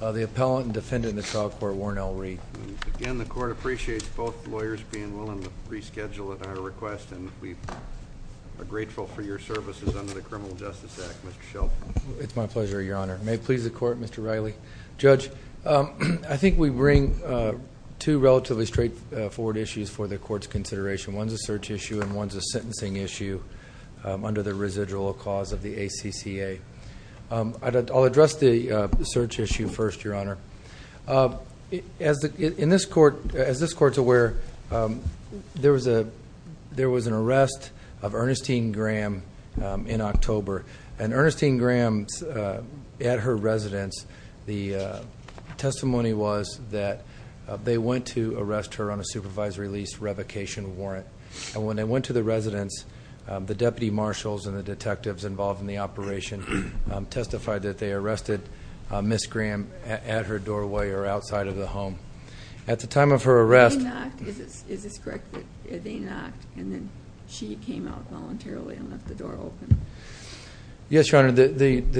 The Appellant and Defendant in the Trial Court, Warnell Reid. Again, the Court appreciates both lawyers being willing to reschedule at our request, and we are grateful for your services under the Criminal Justice Act. Mr. Shelton. It's my pleasure, Your Honor. May it please the Court, Mr. Riley. Judge, I think we bring two relatively straightforward issues for the Court's consideration. One's a search issue and one's a sentencing issue under the residual cause of the ACCA. I'll address the search issue first, Your Honor. As this Court's aware, there was an arrest of Ernestine Graham in October. And Ernestine Graham, at her residence, the testimony was that they went to arrest her on a supervisory lease revocation warrant. And when they went to the residence, the deputy marshals and the detectives involved in the operation testified that they arrested Ms. Graham at her doorway or outside of the home. At the time of her arrest— They knocked. Is this correct? They knocked, and then she came out voluntarily and left the door open. Yes, Your Honor. The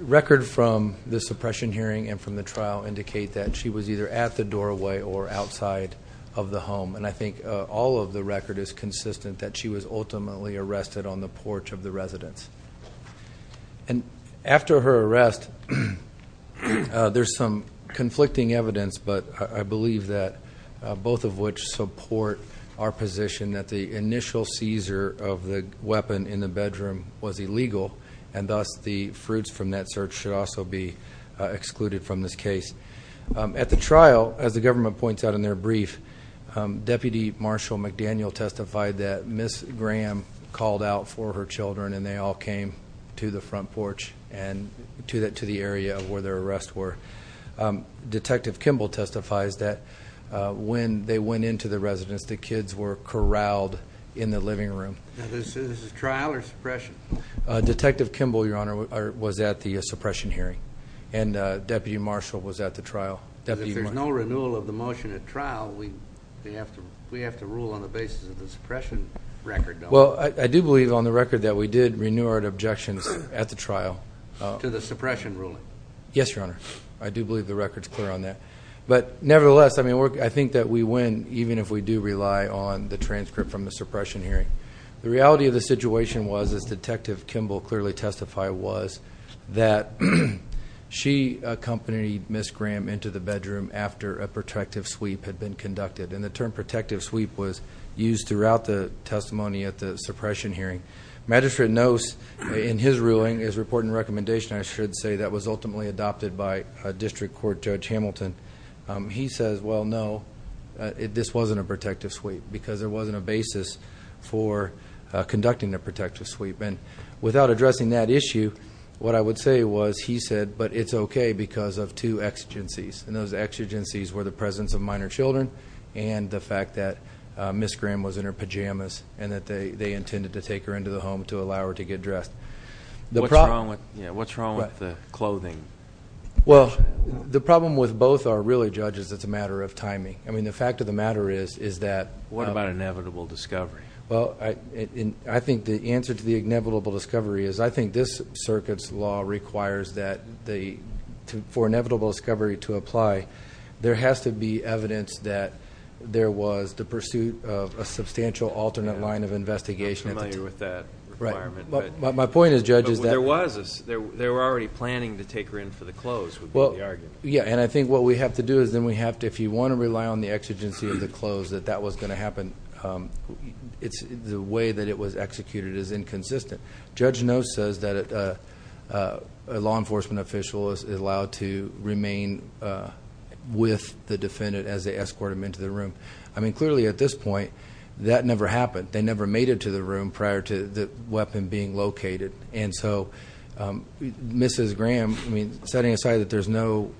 record from the suppression hearing and from the trial indicate that she was either at the doorway or outside of the home. And I think all of the record is consistent that she was ultimately arrested on the porch of the residence. And after her arrest, there's some conflicting evidence, but I believe that both of which support our position that the initial seizure of the weapon in the bedroom was illegal. And thus, the fruits from that search should also be excluded from this case. At the trial, as the government points out in their brief, Deputy Marshal McDaniel testified that Ms. Graham called out for her children, and they all came to the front porch and to the area where their arrests were. Detective Kimball testifies that when they went into the residence, the kids were corralled in the living room. Is this a trial or suppression? Detective Kimball, Your Honor, was at the suppression hearing, and Deputy Marshal was at the trial. If there's no renewal of the motion at trial, we have to rule on the basis of the suppression record, don't we? Well, I do believe on the record that we did renew our objections at the trial. To the suppression ruling? Yes, Your Honor. I do believe the record's clear on that. But nevertheless, I think that we win even if we do rely on the transcript from the suppression hearing. The reality of the situation was, as Detective Kimball clearly testified, was that she accompanied Ms. Graham into the bedroom after a protective sweep had been conducted. And the term protective sweep was used throughout the testimony at the suppression hearing. Magistrate Nose, in his ruling, his report and recommendation, I should say, that was ultimately adopted by District Court Judge Hamilton. He says, well, no, this wasn't a protective sweep because there wasn't a basis for conducting a protective sweep. And without addressing that issue, what I would say was, he said, but it's okay because of two exigencies. And those exigencies were the presence of minor children and the fact that Ms. Graham was in her pajamas and that they intended to take her into the home to allow her to get dressed. What's wrong with the clothing? Well, the problem with both are really, judges, it's a matter of timing. I mean, the fact of the matter is that- What about inevitable discovery? Well, I think the answer to the inevitable discovery is I think this circuit's law requires that for inevitable discovery to apply, there has to be evidence that there was the pursuit of a substantial alternate line of investigation. I'm familiar with that requirement. My point is, judges, that- Because they were already planning to take her in for the clothes would be the argument. Yeah, and I think what we have to do is then we have to, if you want to rely on the exigency of the clothes, that that was going to happen, the way that it was executed is inconsistent. Judge Noe says that a law enforcement official is allowed to remain with the defendant as they escort him into the room. I mean, clearly at this point, that never happened. They never made it to the room prior to the weapon being located. And so Mrs. Graham, I mean, setting aside that there's no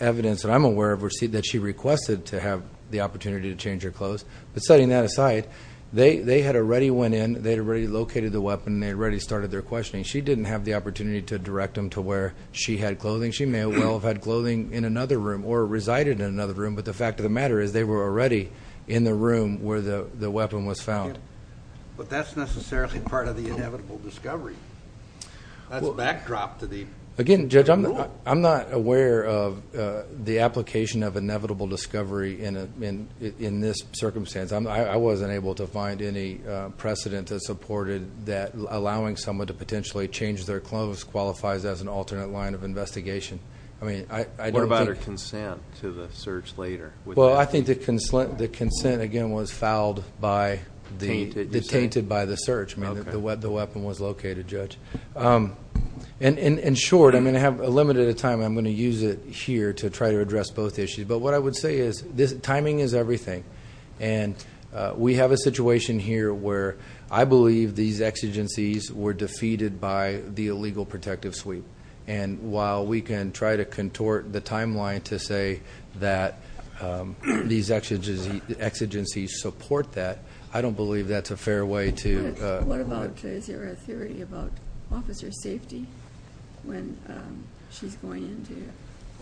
evidence that I'm aware of that she requested to have the opportunity to change her clothes, but setting that aside, they had already went in, they had already located the weapon, they had already started their questioning. She didn't have the opportunity to direct them to where she had clothing. She may well have had clothing in another room or resided in another room, but the fact of the matter is they were already in the room where the weapon was found. But that's necessarily part of the inevitable discovery. That's a backdrop to the rule. Again, Judge, I'm not aware of the application of inevitable discovery in this circumstance. I wasn't able to find any precedent that supported that allowing someone to potentially change their clothes qualifies as an alternate line of investigation. I mean, I don't think – What about her consent to the search later? Well, I think the consent, again, was fouled by the – Tainted, you said? Tainted by the search. I mean, the weapon was located, Judge. In short, I'm going to have a limited time. I'm going to use it here to try to address both issues. But what I would say is timing is everything. And we have a situation here where I believe these exigencies were defeated by the illegal protective sweep. And while we can try to contort the timeline to say that these exigencies support that, I don't believe that's a fair way to – What about, is there a theory about officer safety when she's going into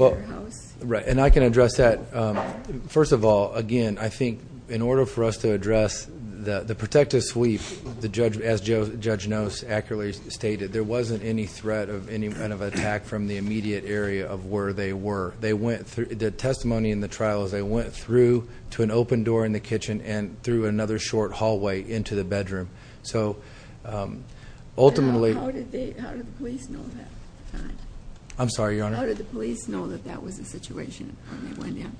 her house? Right, and I can address that. First of all, again, I think in order for us to address the protective sweep, as Judge Knost accurately stated, there wasn't any threat of any kind of attack from the immediate area of where they were. The testimony in the trial is they went through to an open door in the kitchen and through another short hallway into the bedroom. So ultimately – How did the police know that? I'm sorry, Your Honor. How did the police know that that was the situation when they went in?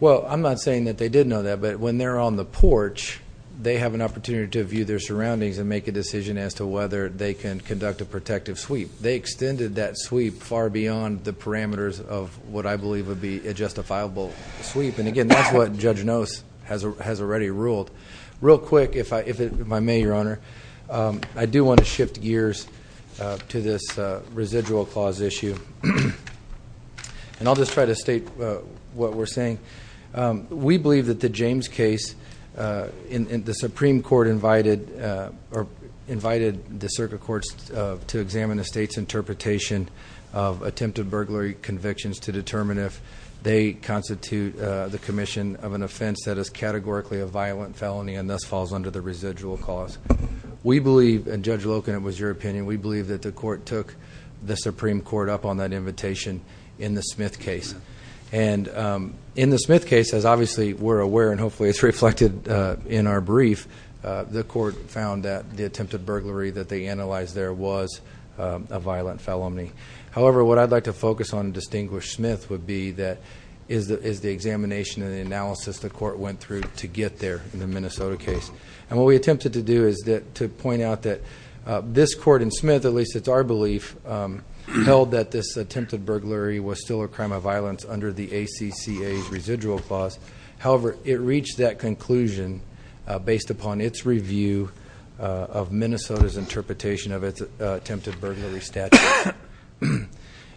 Well, I'm not saying that they didn't know that, but when they're on the porch, they have an opportunity to view their surroundings and make a decision as to whether they can conduct a protective sweep. They extended that sweep far beyond the parameters of what I believe would be a justifiable sweep. And again, that's what Judge Knost has already ruled. Real quick, if I may, Your Honor, I do want to shift gears to this residual clause issue. And I'll just try to state what we're saying. We believe that the James case, the Supreme Court invited the circuit courts to examine the state's interpretation of attempted burglary convictions to determine if they constitute the commission of an offense that is categorically a violent felony and thus falls under the residual clause. We believe, and Judge Loken, it was your opinion, we believe that the court took the Supreme Court up on that invitation in the Smith case. And in the Smith case, as obviously we're aware and hopefully it's reflected in our brief, the court found that the attempted burglary that they analyzed there was a violent felony. However, what I'd like to focus on in Distinguished Smith would be is the examination and the analysis the court went through to get there in the Minnesota case. And what we attempted to do is to point out that this court in Smith, at least it's our belief, held that this attempted burglary was still a crime of violence under the ACCA's residual clause. However, it reached that conclusion based upon its review of Minnesota's interpretation of its attempted burglary statute.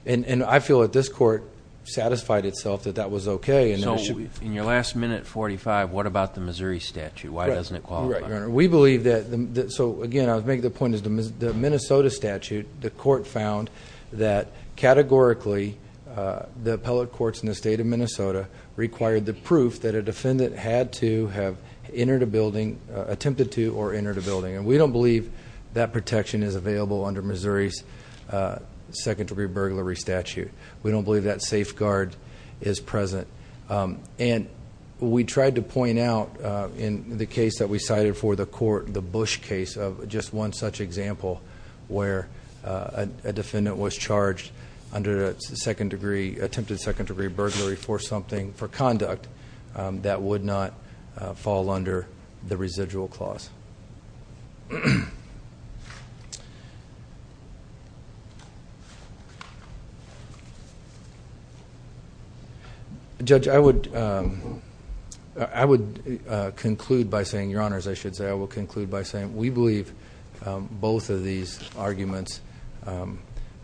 And I feel that this court satisfied itself that that was okay. So in your last minute, 45, what about the Missouri statute? Why doesn't it qualify? We believe that, so again, I would make the point that the Minnesota statute, the court found that categorically the appellate courts in the state of Minnesota required the proof that a defendant had to have entered a building, attempted to, or entered a building. And we don't believe that protection is available under Missouri's second degree burglary statute. We don't believe that safeguard is present. And we tried to point out in the case that we cited for the court, the Bush case of just one such example where a defendant was charged under attempted second degree burglary for something for conduct that would not fall under the residual clause. Judge, I would conclude by saying, your honors, I should say, I will conclude by saying we believe both of these arguments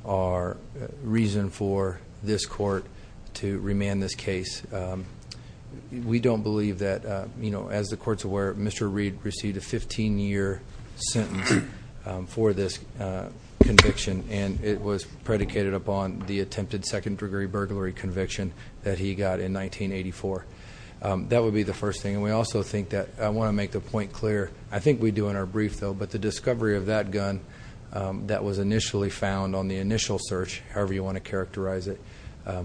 are reason for this court to remand this case. We don't believe that, as the court's aware, Mr. Reed received a 15 year sentence for this conviction. And it was predicated upon the attempted second degree burglary conviction that he got in 1984. That would be the first thing. And we also think that, I want to make the point clear, I think we do in our brief though, but the discovery of that gun that was initially found on the initial search, however you want to characterize it,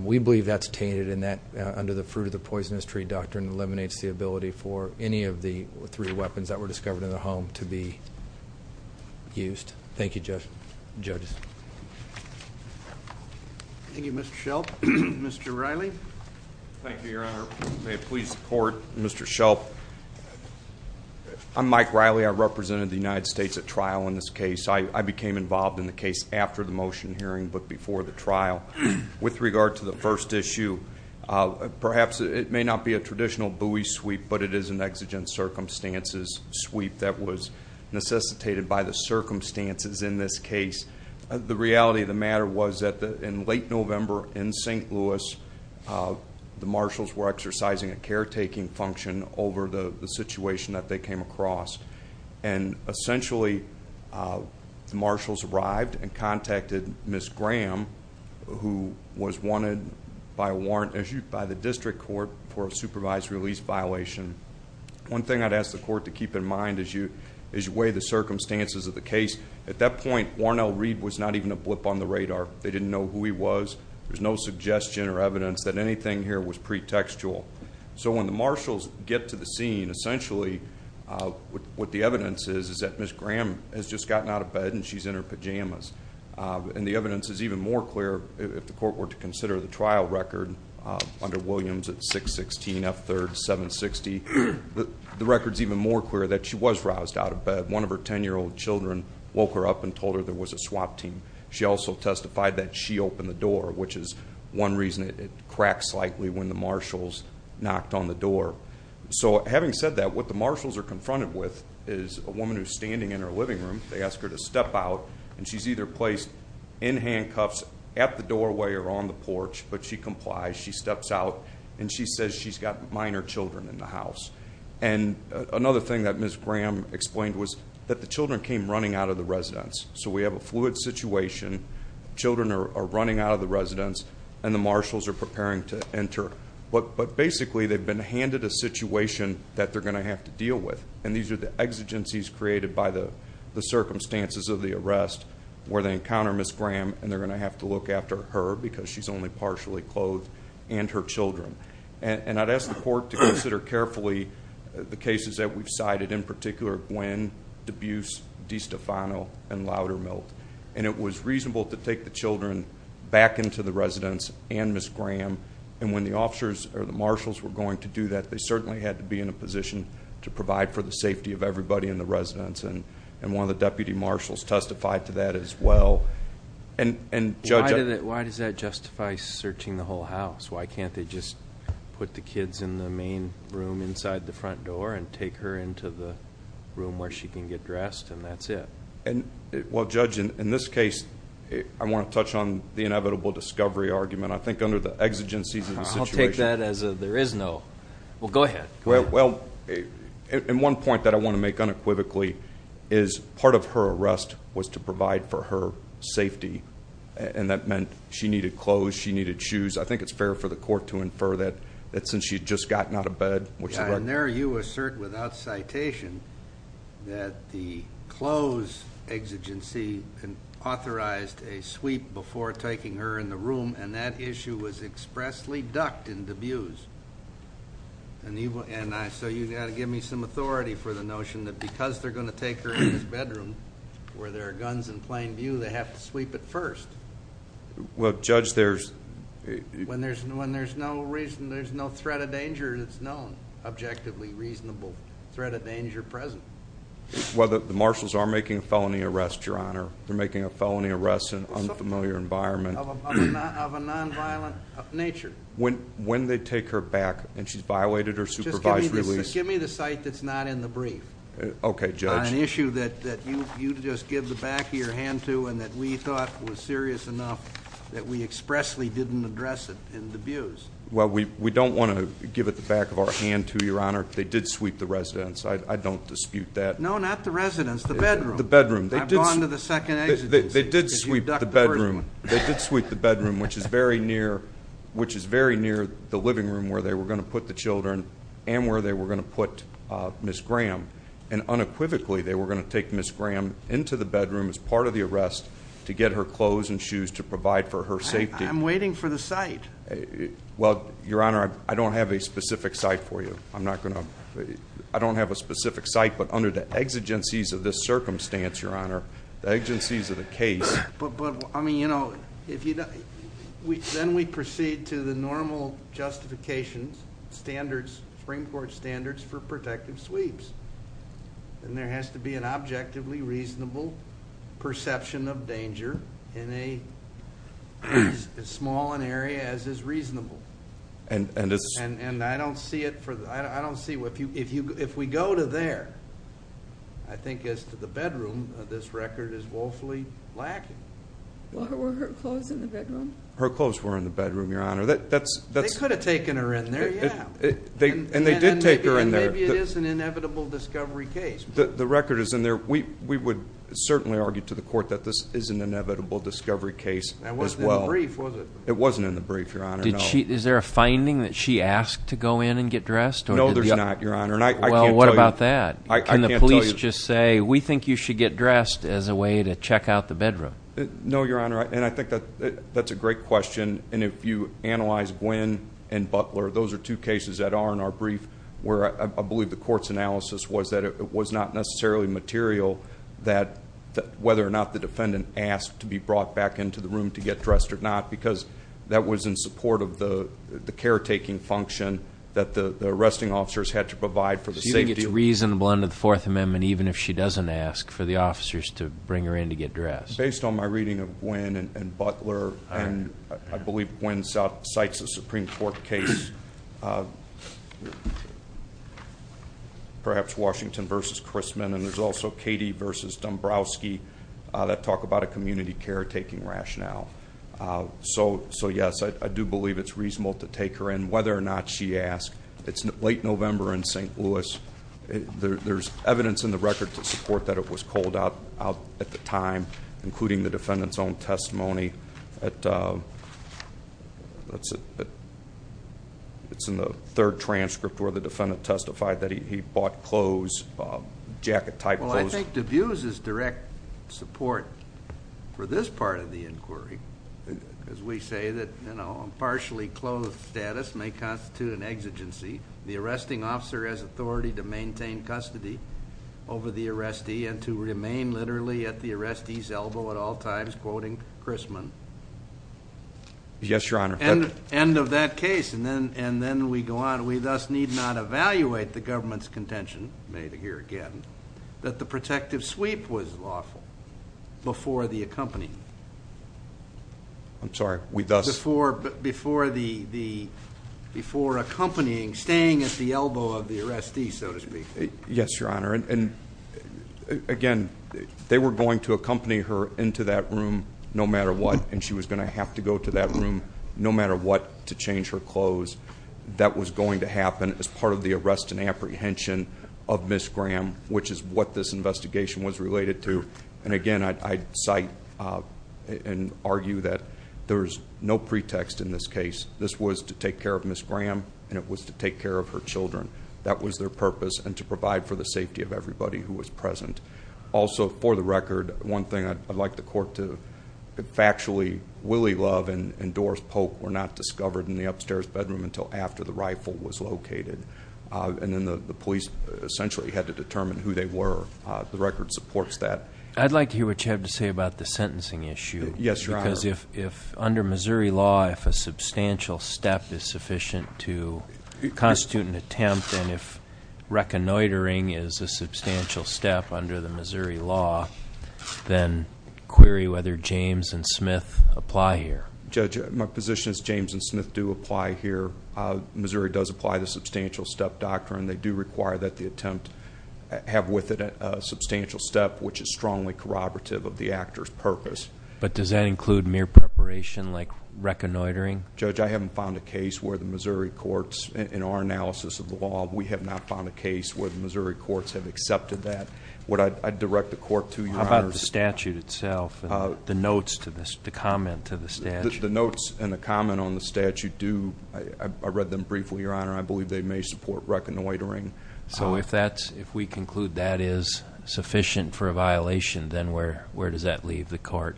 we believe that's tainted and that, under the fruit of the poisonous tree doctrine, eliminates the ability for any of the three weapons that were discovered in the home to be used. Thank you, judges. Thank you, Mr. Shelp. Mr. Riley. Thank you, your honor. May it please the court. Mr. Shelp, I'm Mike Riley. I represented the United States at trial in this case. I became involved in the case after the motion hearing but before the trial. With regard to the first issue, perhaps it may not be a traditional buoy sweep, but it is an exigent circumstances sweep that was necessitated by the circumstances in this case. The reality of the matter was that in late November in St. Louis, the marshals were exercising a caretaking function over the situation that they came across. And essentially the marshals arrived and contacted Ms. Graham, who was wanted by the district court for a supervised release violation. One thing I'd ask the court to keep in mind is you weigh the circumstances of the case. At that point, Warren L. Reed was not even a blip on the radar. They didn't know who he was. There's no suggestion or evidence that anything here was pretextual. So when the marshals get to the scene, essentially what the evidence is, is that Ms. Graham has just gotten out of bed and she's in her pajamas. And the evidence is even more clear if the court were to consider the trial record under Williams at 6-16, F-3rd, 7-60. The record's even more clear that she was roused out of bed. One of her 10-year-old children woke her up and told her there was a swap team. She also testified that she opened the door, which is one reason it cracked slightly when the marshals knocked on the door. So having said that, what the marshals are confronted with is a woman who's standing in her living room. They ask her to step out, and she's either placed in handcuffs at the doorway or on the porch, but she complies. She steps out, and she says she's got minor children in the house. And another thing that Ms. Graham explained was that the children came running out of the residence. So we have a fluid situation. Children are running out of the residence, and the marshals are preparing to enter. But basically, they've been handed a situation that they're going to have to deal with. And these are the exigencies created by the circumstances of the arrest where they encounter Ms. Graham, and they're going to have to look after her because she's only partially clothed and her children. And I'd ask the court to consider carefully the cases that we've cited, in particular Gwen, Debus, DiStefano, and Loudermilk. And it was reasonable to take the children back into the residence and Ms. Graham. And when the officers or the marshals were going to do that, they certainly had to be in a position to provide for the safety of everybody in the residence. And one of the deputy marshals testified to that as well. And Judge... Why does that justify searching the whole house? Why can't they just put the kids in the main room inside the front door and take her into the room where she can get dressed, and that's it? Well, Judge, in this case, I want to touch on the inevitable discovery argument. I think under the exigencies of the situation... I'll take that as a there is no. Well, go ahead. Well, and one point that I want to make unequivocally is part of her arrest was to provide for her safety, and that meant she needed clothes, she needed shoes. I think it's fair for the court to infer that since she had just gotten out of bed... And there you assert without citation that the clothes exigency authorized a sweep before taking her in the room, and that issue was expressly ducked and abused. And so you've got to give me some authority for the notion that because they're going to take her in this bedroom where there are guns in plain view, they have to sweep it first. Well, Judge, there's... When there's no threat of danger that's known, objectively reasonable threat of danger present. Well, the marshals are making a felony arrest, Your Honor. They're making a felony arrest in an unfamiliar environment. Of a nonviolent nature. When they take her back and she's violated her supervised release... Just give me the cite that's not in the brief. Okay, Judge. On an issue that you just give the back of your hand to and that we thought was serious enough that we expressly didn't address it and abuse. Well, we don't want to give it the back of our hand to, Your Honor. They did sweep the residence. I don't dispute that. No, not the residence. The bedroom. The bedroom. I've gone to the second exigence. They did sweep the bedroom. They did sweep the bedroom, which is very near the living room where they were going to put the children and where they were going to put Ms. Graham. And unequivocally, they were going to take Ms. Graham into the bedroom as part of the arrest to get her clothes and shoes to provide for her safety. I'm waiting for the cite. Well, Your Honor, I don't have a specific cite for you. I'm not going to... I don't have a specific cite, but under the exigencies of this circumstance, Your Honor, the exigencies of the case... But, I mean, you know, if you... Then we proceed to the normal justifications, standards, Supreme Court standards for protective sweeps. And there has to be an objectively reasonable perception of danger in a... as small an area as is reasonable. And it's... Well, were her clothes in the bedroom? Her clothes were in the bedroom, Your Honor. That's... They could have taken her in there, yeah. And they did take her in there. And maybe it is an inevitable discovery case. The record is in there. We would certainly argue to the court that this is an inevitable discovery case as well. It wasn't in the brief, was it? It wasn't in the brief, Your Honor, no. Is there a finding that she asked to go in and get dressed? No, there's not, Your Honor. Well, what about that? I can't tell you. Can the police just say, we think you should get dressed as a way to check out the bedroom? No, Your Honor. And I think that's a great question. And if you analyze Gwynne and Butler, those are two cases that are in our brief, where I believe the court's analysis was that it was not necessarily material that... whether or not the defendant asked to be brought back into the room to get dressed or not, because that was in support of the caretaking function that the arresting officers had to provide for the safety... So you think it's reasonable under the Fourth Amendment, even if she doesn't ask, for the officers to bring her in to get dressed? Based on my reading of Gwynne and Butler, and I believe Gwynne cites a Supreme Court case... perhaps Washington v. Chrisman, and there's also Katie v. Dombrowski... that talk about a community caretaking rationale. So, yes, I do believe it's reasonable to take her in, whether or not she asked. It's late November in St. Louis. There's evidence in the record to support that it was cold out at the time, including the defendant's own testimony. It's in the third transcript, where the defendant testified that he bought clothes, jacket-type clothes. Well, I think D'Abuse is direct support for this part of the inquiry. Because we say that, you know, a partially clothed status may constitute an exigency. The arresting officer has authority to maintain custody over the arrestee and to remain literally at the arrestee's elbow at all times, quoting Chrisman. Yes, Your Honor. End of that case. And then we go on. We thus need not evaluate the government's contention, made here again, that the protective sweep was lawful before the accompanying... I'm sorry, we thus... Before accompanying, staying at the elbow of the arrestee, so to speak. Yes, Your Honor. And, again, they were going to accompany her into that room no matter what, and she was going to have to go to that room no matter what to change her clothes. That was going to happen as part of the arrest and apprehension of Ms. Graham, which is what this investigation was related to. And, again, I cite and argue that there's no pretext in this case. This was to take care of Ms. Graham, and it was to take care of her children. That was their purpose, and to provide for the safety of everybody who was present. Also, for the record, one thing I'd like the court to factually willy-love and endorse, Polk were not discovered in the upstairs bedroom until after the rifle was located. And then the police essentially had to determine who they were. The record supports that. I'd like to hear what you have to say about the sentencing issue. Yes, Your Honor. Because under Missouri law, if a substantial step is sufficient to constitute an attempt, and if reconnoitering is a substantial step under the Missouri law, then query whether James and Smith apply here. Judge, my position is James and Smith do apply here. Missouri does apply the substantial step doctrine. They do require that the attempt have with it a substantial step, which is strongly corroborative of the actor's purpose. But does that include mere preparation like reconnoitering? Judge, I haven't found a case where the Missouri courts, in our analysis of the law, we have not found a case where the Missouri courts have accepted that. I'd direct the court to, Your Honor. How about the statute itself and the notes to comment to the statute? The notes and the comment on the statute do, I read them briefly, Your Honor. I believe they may support reconnoitering. So if we conclude that is sufficient for a violation, then where does that leave the court?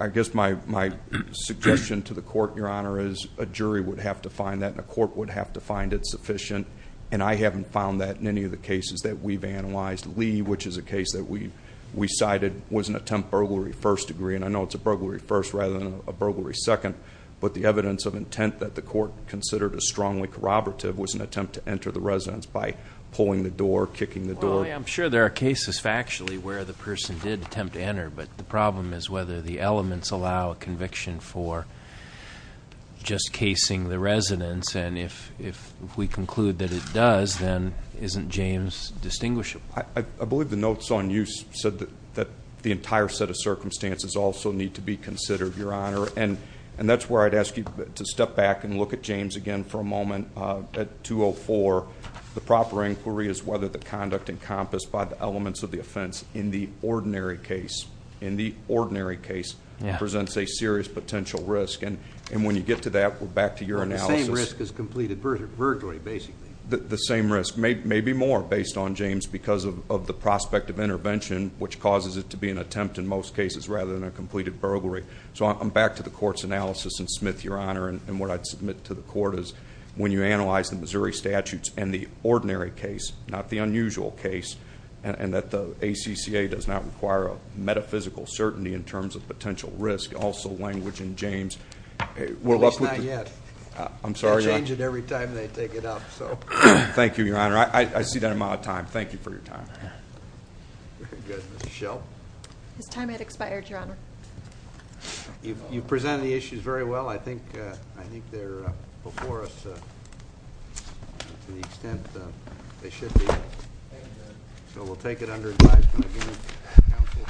I guess my suggestion to the court, Your Honor, is a jury would have to find that and a court would have to find it sufficient. And I haven't found that in any of the cases that we've analyzed. Lee, which is a case that we cited, was an attempt burglary first degree. And I know it's a burglary first rather than a burglary second. But the evidence of intent that the court considered as strongly corroborative was an attempt to enter the residence by pulling the door, kicking the door. I'm sure there are cases factually where the person did attempt to enter. But the problem is whether the elements allow a conviction for just casing the residence. And if we conclude that it does, then isn't James distinguishable? I believe the notes on use said that the entire set of circumstances also need to be considered, Your Honor. And that's where I'd ask you to step back and look at James again for a moment. At 204, the proper inquiry is whether the conduct encompassed by the elements of the offense in the ordinary case presents a serious potential risk. And when you get to that, we're back to your analysis. The same risk as completed burglary, basically. The same risk, maybe more, based on James because of the prospect of intervention, which causes it to be an attempt in most cases rather than a completed burglary. So I'm back to the court's analysis and Smith, Your Honor. And what I'd submit to the court is when you analyze the Missouri statutes and the ordinary case, not the unusual case, and that the ACCA does not require a metaphysical certainty in terms of potential risk, also language in James. Well, that's not yet. I'm sorry, Your Honor. They change it every time they take it up. Thank you, Your Honor. I see that amount of time. Thank you for your time. Very good. Ms. Schell? His time had expired, Your Honor. You presented the issues very well. I think they're before us to the extent they should be. So we'll take it under advisement again.